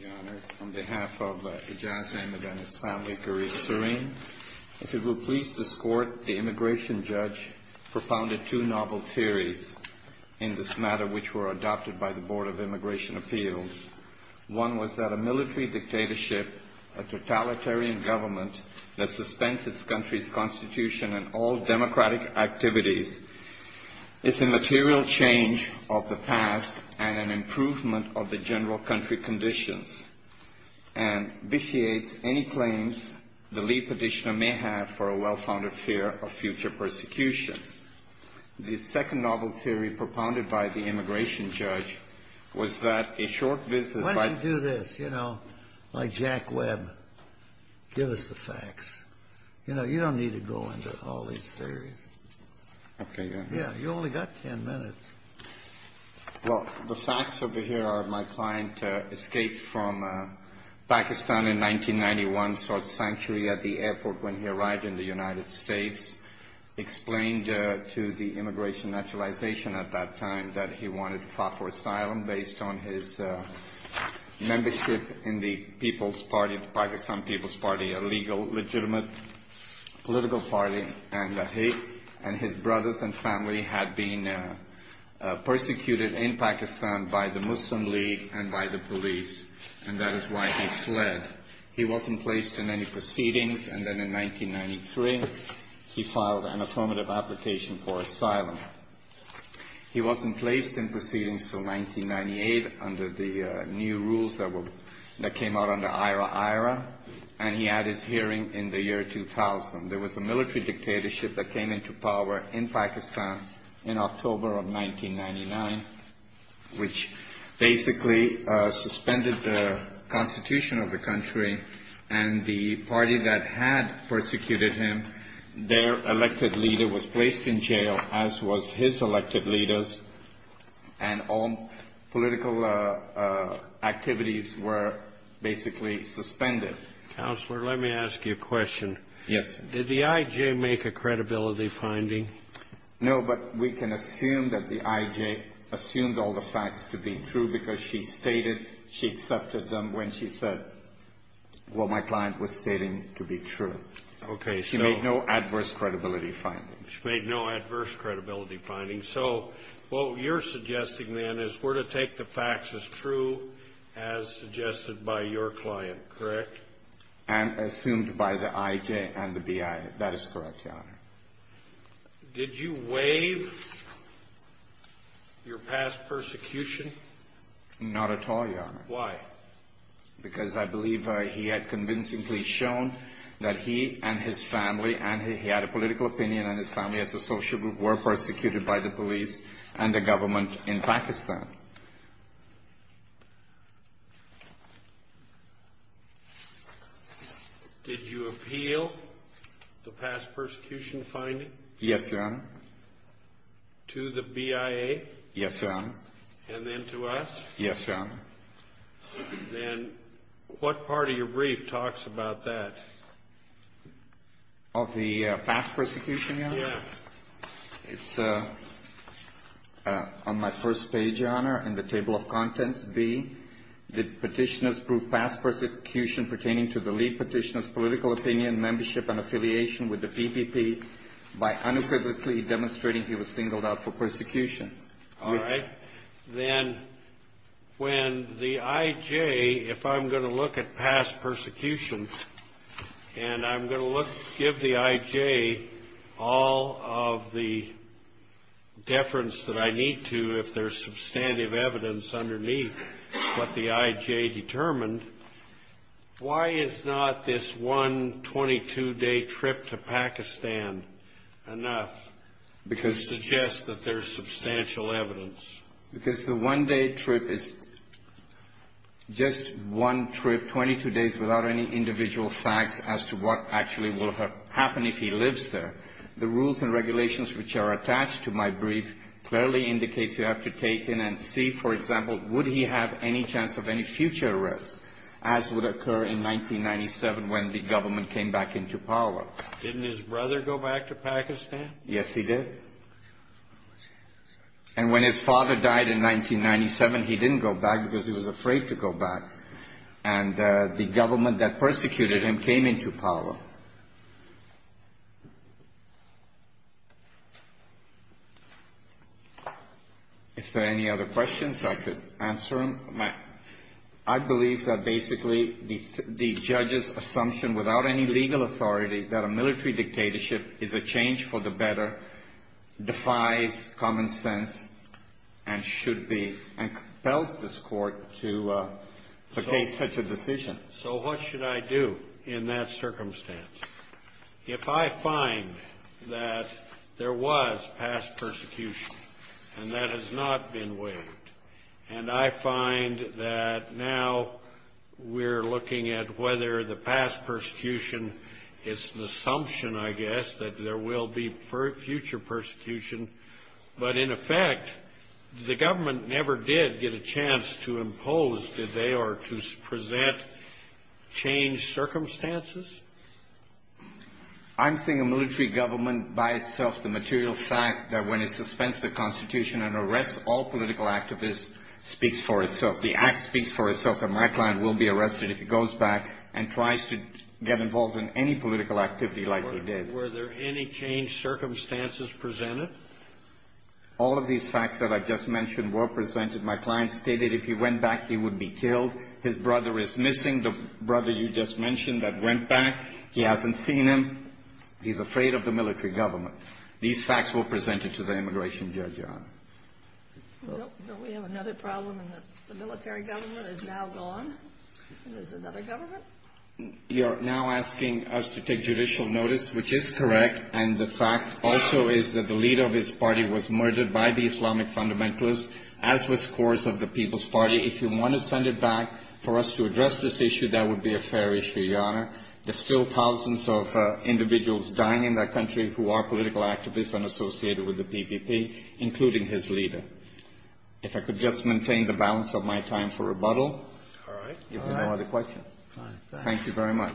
Your Honor, on behalf of Ijaz Ahmed and his family, Kareem Sareen, if it will please this Court, the immigration judge propounded two novel theories in this matter which were adopted by the Board of Immigration Appeals. One was that a military dictatorship, a totalitarian government that suspends its country's constitution and all democratic activities is a material change of the past and an improvement of the general country conditions and vitiates any claims the lead petitioner may have for a well-founded fear of future persecution. The second novel theory propounded by the immigration judge was that a short visit by — Yeah, you only got 10 minutes. Well, the facts over here are my client escaped from Pakistan in 1991, sought sanctuary at the airport when he arrived in the United States, explained to the Immigration Naturalization at that time that he wanted to fight for asylum based on his membership in the People's Party, the Pakistan People's Party, a legal, legitimate political party, and that he and his brothers and family had been persecuted in Pakistan by the Muslim League and by the police, and that is why he fled. He wasn't placed in any proceedings, and then in 1993 he filed an affirmative application for asylum. He wasn't placed in proceedings till 1998 under the new rules that came out under IRA-IRA, and he had his hearing in the year 2000. There was a military dictatorship that came into power in Pakistan in October of 1999, which basically suspended the constitution of the country, and the party that had persecuted him, their elected leader was placed in jail, as was his elected leader's, and all political activities were basically suspended. Counselor, let me ask you a question. Yes, sir. Did the IJ make a credibility finding? No, but we can assume that the IJ assumed all the facts to be true because she stated she accepted them when she said what my client was stating to be true. Okay. She made no adverse credibility findings. She made no adverse credibility findings. So what you're suggesting, then, is we're to take the facts as true as suggested by your client, correct? And assumed by the IJ and the BI. That is correct, Your Honor. Did you waive your past persecution? Not at all, Your Honor. Why? Because I believe he had convincingly shown that he and his family, and he had a political opinion on his family as a social group, were persecuted by the police and the government in Pakistan. Did you appeal the past persecution finding? Yes, Your Honor. To the BIA? Yes, Your Honor. And then to us? Yes, Your Honor. Then what part of your brief talks about that? Of the past persecution, Your Honor? Yes. It's on my first page, Your Honor, in the table of contents, B, did Petitioners prove past persecution pertaining to the lead Petitioner's political opinion, membership, and affiliation with the PPP by unequivocally demonstrating he was singled out for persecution? All right. Then when the IJ, if I'm going to look at past persecution and I'm going to give the IJ all of the deference that I need to, if there's substantive evidence underneath what the IJ determined, why is not this one 22-day trip to Pakistan enough to suggest that there's substantial evidence? Because the one-day trip is just one trip, 22 days, without any individual facts as to what actually will happen if he lives there. The rules and regulations which are attached to my brief clearly indicates you have to take in and see, for example, would he have any chance of any future arrest, as would occur in 1997 when the government came back into power. Didn't his brother go back to Pakistan? Yes, he did. And when his father died in 1997, he didn't go back because he was afraid to go back. And the government that persecuted him came into power. If there are any other questions, I could answer them. I believe that basically the judge's assumption without any legal authority that a military dictatorship is a change for the better defies common sense and should be, and compels this Court to make such a decision. So what should I do in that circumstance? If I find that there was past persecution and that has not been waived, and I find that now we're looking at whether the past persecution is an assumption, I guess, that there will be future persecution, but in effect the government never did get a chance to impose, did they, or to present changed circumstances? I'm saying a military government by itself, the material fact that when it suspends the Constitution and arrests all political activists, speaks for itself. The act speaks for itself that my client will be arrested if he goes back and tries to get involved in any political activity like he did. Were there any changed circumstances presented? All of these facts that I just mentioned were presented. My client stated if he went back, he would be killed. His brother is missing, the brother you just mentioned that went back. He hasn't seen him. He's afraid of the military government. These facts were presented to the immigration judge, Your Honor. We have another problem in that the military government is now gone. There's another government. You're now asking us to take judicial notice, which is correct, and the fact also is that the leader of his party was murdered by the Islamic fundamentalists, as was the course of the People's Party. If you want to send it back for us to address this issue, that would be a fair issue, Your Honor. There's still thousands of individuals dying in that country who are political activists and associated with the PPP, including his leader. If I could just maintain the balance of my time for rebuttal. All right. If there are no other questions. Thank you very much.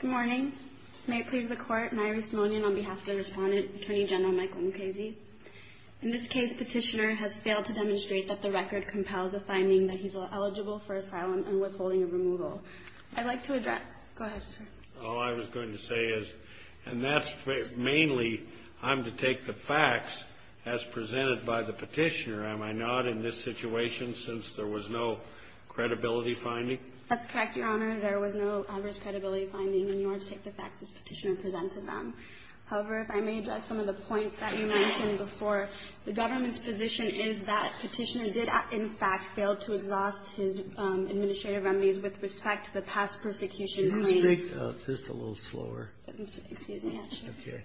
Good morning. May it please the Court. Nairi Simonian on behalf of the Respondent, Attorney General Michael Mukasey. In this case, Petitioner has failed to demonstrate that the record compels a finding that he's eligible for asylum and withholding of removal. I'd like to address. Go ahead, sir. All I was going to say is, and that's mainly, I'm to take the facts as presented by the Petitioner, am I not, in this situation, since there was no credibility finding? That's correct, Your Honor. There was no adverse credibility finding, and you are to take the facts as Petitioner presented them. However, if I may address some of the points that you mentioned before. The government's position is that Petitioner did, in fact, fail to exhaust his administrative remedies with respect to the past persecution claims. Just a little slower. Excuse me, actually. Okay.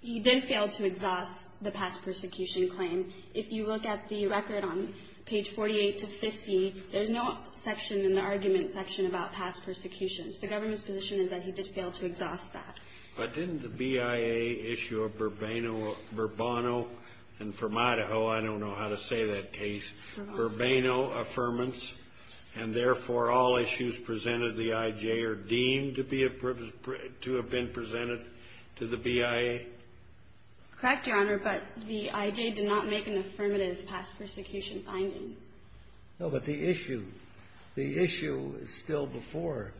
He did fail to exhaust the past persecution claim. If you look at the record on page 48 to 50, there's no section in the argument section about past persecutions. The government's position is that he did fail to exhaust that. But didn't the BIA issue a Burbano, and from Idaho, I don't know how to say that case. Burbano. And therefore, all issues presented to the IJ are deemed to be to have been presented to the BIA? Correct, Your Honor. But the IJ did not make an affirmative past persecution finding. No, but the issue, the issue is still before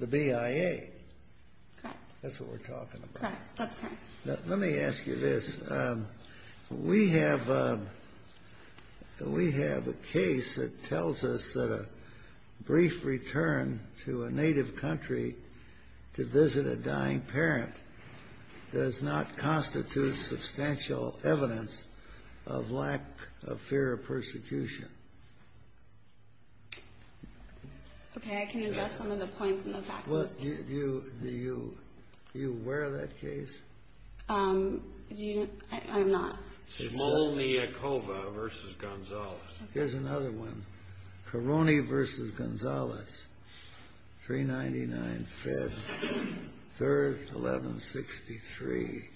the BIA. Correct. That's what we're talking about. That's correct. Let me ask you this. We have a case that tells us that a brief return to a native country to visit a dying parent does not constitute substantial evidence of lack of fear of persecution. Okay. I can address some of the points in the facts. Do you aware of that case? I'm not. Simone Iacova v. Gonzalez. Here's another one. Caroni v. Gonzalez, 399 Fed, 3rd, 1163.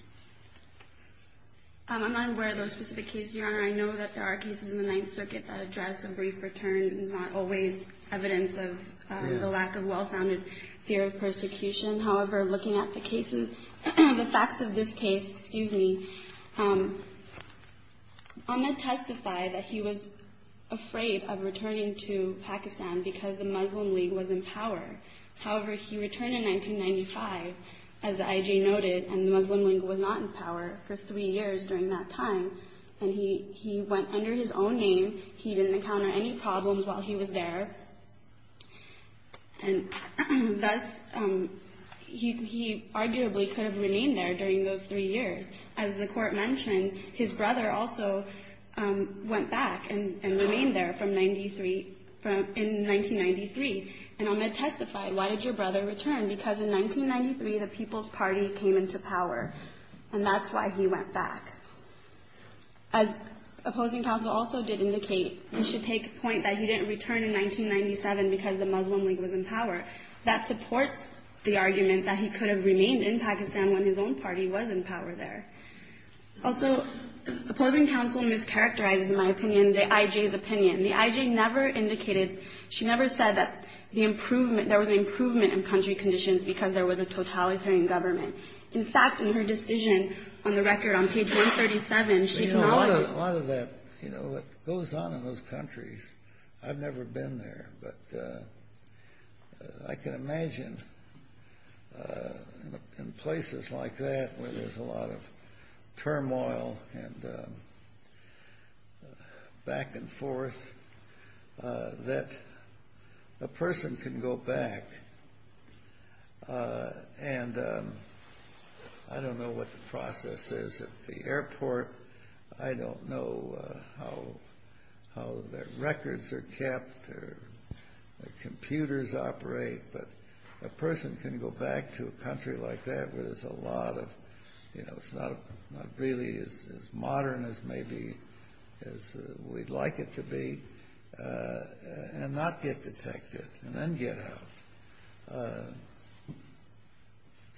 I'm not aware of those specific cases, Your Honor. I know that there are cases in the Ninth Circuit that address a brief return. It's not always evidence of the lack of well-founded fear of persecution. However, looking at the cases, the facts of this case, excuse me, Ahmed testified that he was afraid of returning to Pakistan because the Muslim League was in power. However, he returned in 1995, as the IJ noted, and the Muslim League was not in power for three years during that time. And he went under his own name. He didn't encounter any problems while he was there. And thus, he arguably could have remained there during those three years. As the Court mentioned, his brother also went back and remained there from 1993. And Ahmed testified, why did your brother return? Because in 1993, the People's Party came into power. And that's why he went back. As opposing counsel also did indicate, we should take point that he didn't return in 1997 because the Muslim League was in power. That supports the argument that he could have remained in Pakistan when his own party was in power there. Also, opposing counsel mischaracterizes, in my opinion, the IJ's opinion. The IJ never indicated, she never said that the improvement, there was an improvement in country conditions because there was a totalitarian government. In fact, in her decision on the record on page 137, she acknowledged it. A lot of that, you know, it goes on in those countries. I've never been there. But I can imagine in places like that where there's a lot of turmoil and back and forth that a person can go back and I don't know what the process is at the airport. I don't know how their records are kept or their computers operate. But a person can go back to a country like that where there's a lot of, you know, it's not really as modern as maybe we'd like it to be and not get detected and then get out.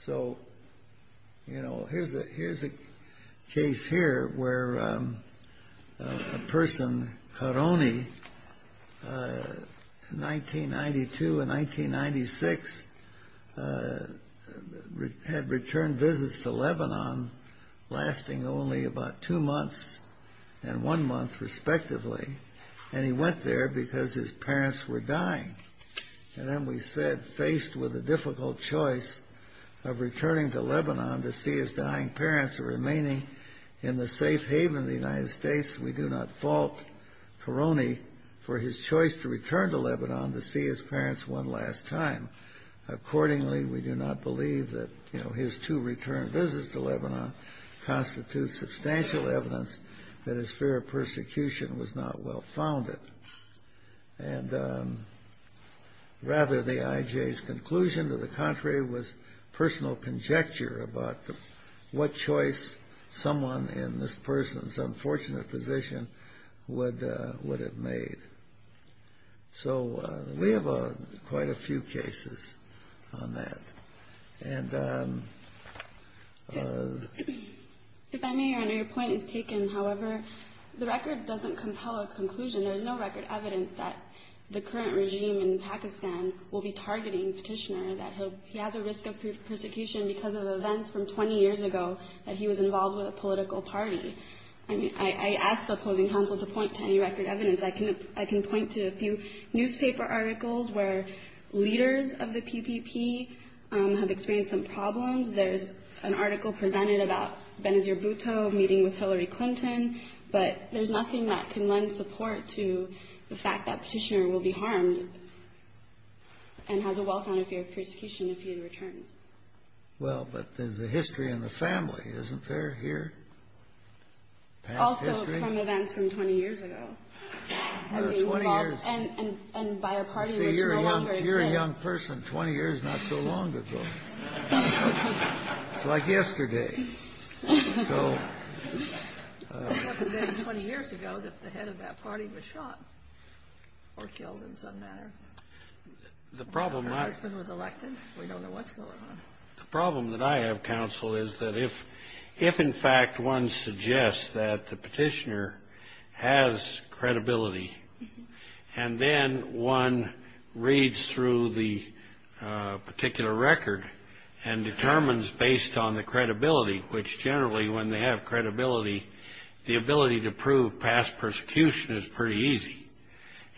So, you know, here's a case here where a person, Kharoni, in 1992 and 1996 had returned visits to Lebanon lasting only about two months and one month respectively. And he went there because his parents were dying. And then we said, faced with a difficult choice of returning to Lebanon to see his dying parents or remaining in the safe haven of the United States, we do not fault Kharoni for his choice to return to Lebanon to see his parents one last time. Accordingly, we do not believe that, you know, his two return visits to Lebanon constitutes substantial evidence that his fear of persecution was not well founded. And rather the IJ's conclusion to the contrary was personal conjecture about what choice someone in this person's unfortunate position would have made. So we have quite a few cases on that. And the ---- If I may, Your Honor, your point is taken. However, the record doesn't compel a conclusion. There is no record evidence that the current regime in Pakistan will be targeting Petitioner, that he has a risk of persecution because of events from 20 years ago that he was involved with a political party. I mean, I asked the opposing counsel to point to any record evidence. I can point to a few newspaper articles where leaders of the PPP have experienced some problems. There's an article presented about Benazir Bhutto meeting with Hillary Clinton. But there's nothing that can lend support to the fact that Petitioner will be harmed and has a well-founded fear of persecution if he returns. Well, but there's a history in the family, isn't there, here? Past history? Also from events from 20 years ago. 20 years. And by a party which no longer exists. See, you're a young person, 20 years not so long ago. It's like yesterday. It wasn't until 20 years ago that the head of that party was shot or killed, in some manner. Her husband was elected. We don't know what's going on. The problem that I have, counsel, is that if in fact one suggests that the petitioner has credibility and then one reads through the particular record and determines based on the credibility, which generally when they have credibility, the ability to prove past persecution is pretty easy,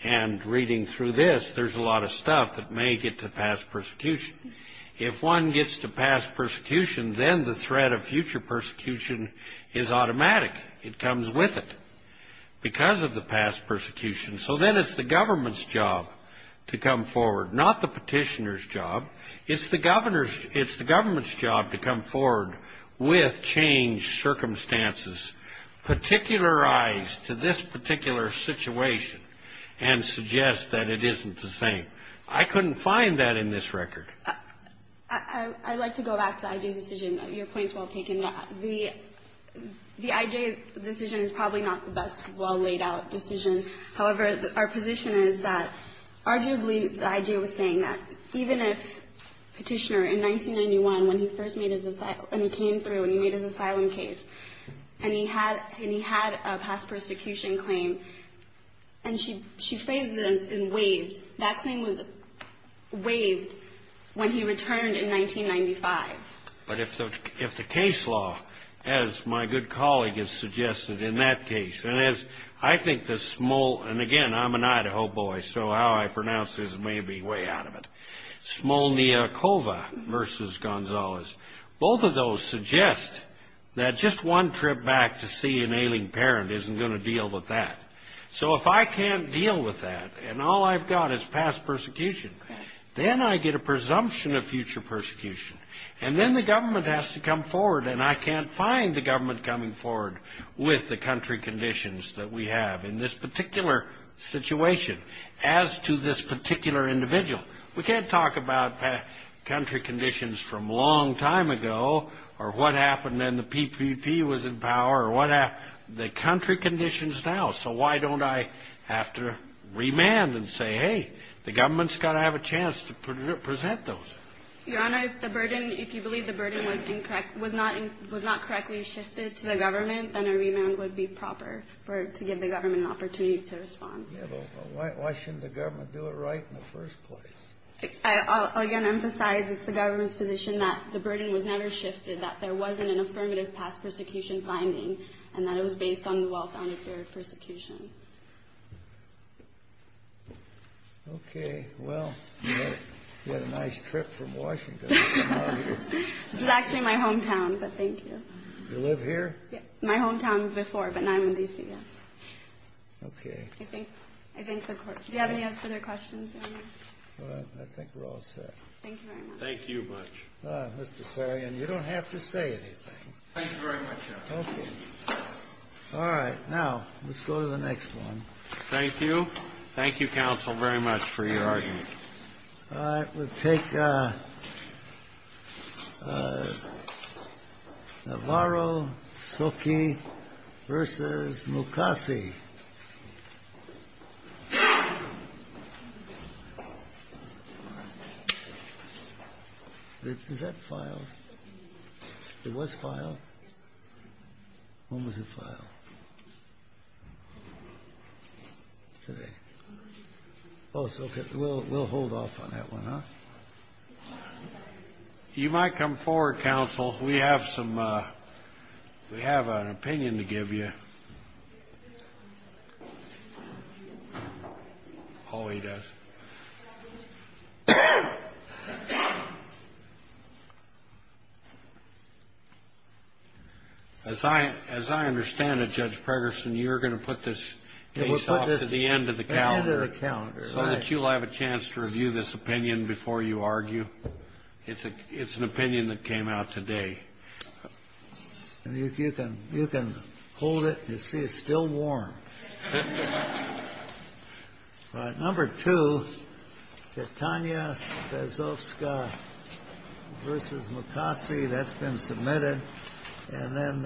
and reading through this, there's a lot of stuff that may get to past persecution. If one gets to past persecution, then the threat of future persecution is automatic. It comes with it because of the past persecution. So then it's the government's job to come forward, not the petitioner's job. It's the government's job to come forward with changed circumstances, particularize to this particular situation, and suggest that it isn't the same. I couldn't find that in this record. I'd like to go back to the I.J.'s decision. Your point's well taken. The I.J.'s decision is probably not the best well laid out decision. However, our position is that arguably the I.J. was saying that even if Petitioner, in 1991, when he first made his asylum, when he came through and he made his asylum case, and he had a past persecution claim, and she phrased it and waved, that claim was waved when he returned in 1995. But if the case law, as my good colleague has suggested in that case, and as I think the small, and again, I'm an Idaho boy, so how I pronounce this may be way out of it, Smolniakova versus Gonzalez, both of those suggest that just one trip back to see an ailing parent isn't going to deal with that. So if I can't deal with that, and all I've got is past persecution, then I get a presumption of future persecution, and then the government has to come forward, and I can't find the government coming forward with the country conditions that we have in this particular situation as to this particular individual. We can't talk about country conditions from a long time ago or what happened when the PPP was in power or what happened to the country conditions now. So why don't I have to remand and say, hey, the government's got to have a chance to present those? Your Honor, if the burden, if you believe the burden was incorrect, was not correctly shifted to the government, then a remand would be proper to give the government an opportunity to respond. Yeah, but why shouldn't the government do it right in the first place? I'll again emphasize it's the government's position that the burden was never shifted, that there wasn't an affirmative past persecution finding, and that it was based on the well-founded theory of persecution. Okay, well, you had a nice trip from Washington to come out here. This is actually my hometown, but thank you. You live here? Yeah, my hometown before, but now I'm in D.C. Okay. Do you have any other questions? I think we're all set. Thank you very much. Thank you much. Mr. Sarian, you don't have to say anything. Thank you very much, Your Honor. Okay. All right, now let's go to the next one. Thank you. Thank you, counsel, very much for your argument. All right, we'll take Navarro-Soki v. Mukasey. Is that filed? It was filed? When was it filed? Today. Oh, so we'll hold off on that one, huh? You might come forward, counsel. We have an opinion to give you. Oh, he does. As I understand it, Judge Pregerson, you're going to put this case off to the end of the calendar so that you'll have a chance to review this opinion before you argue? It's an opinion that came out today. You can hold it. You see, it's still warm. All right, number two, Katania Bezovskaya v. Mukasey. That's been submitted. And then,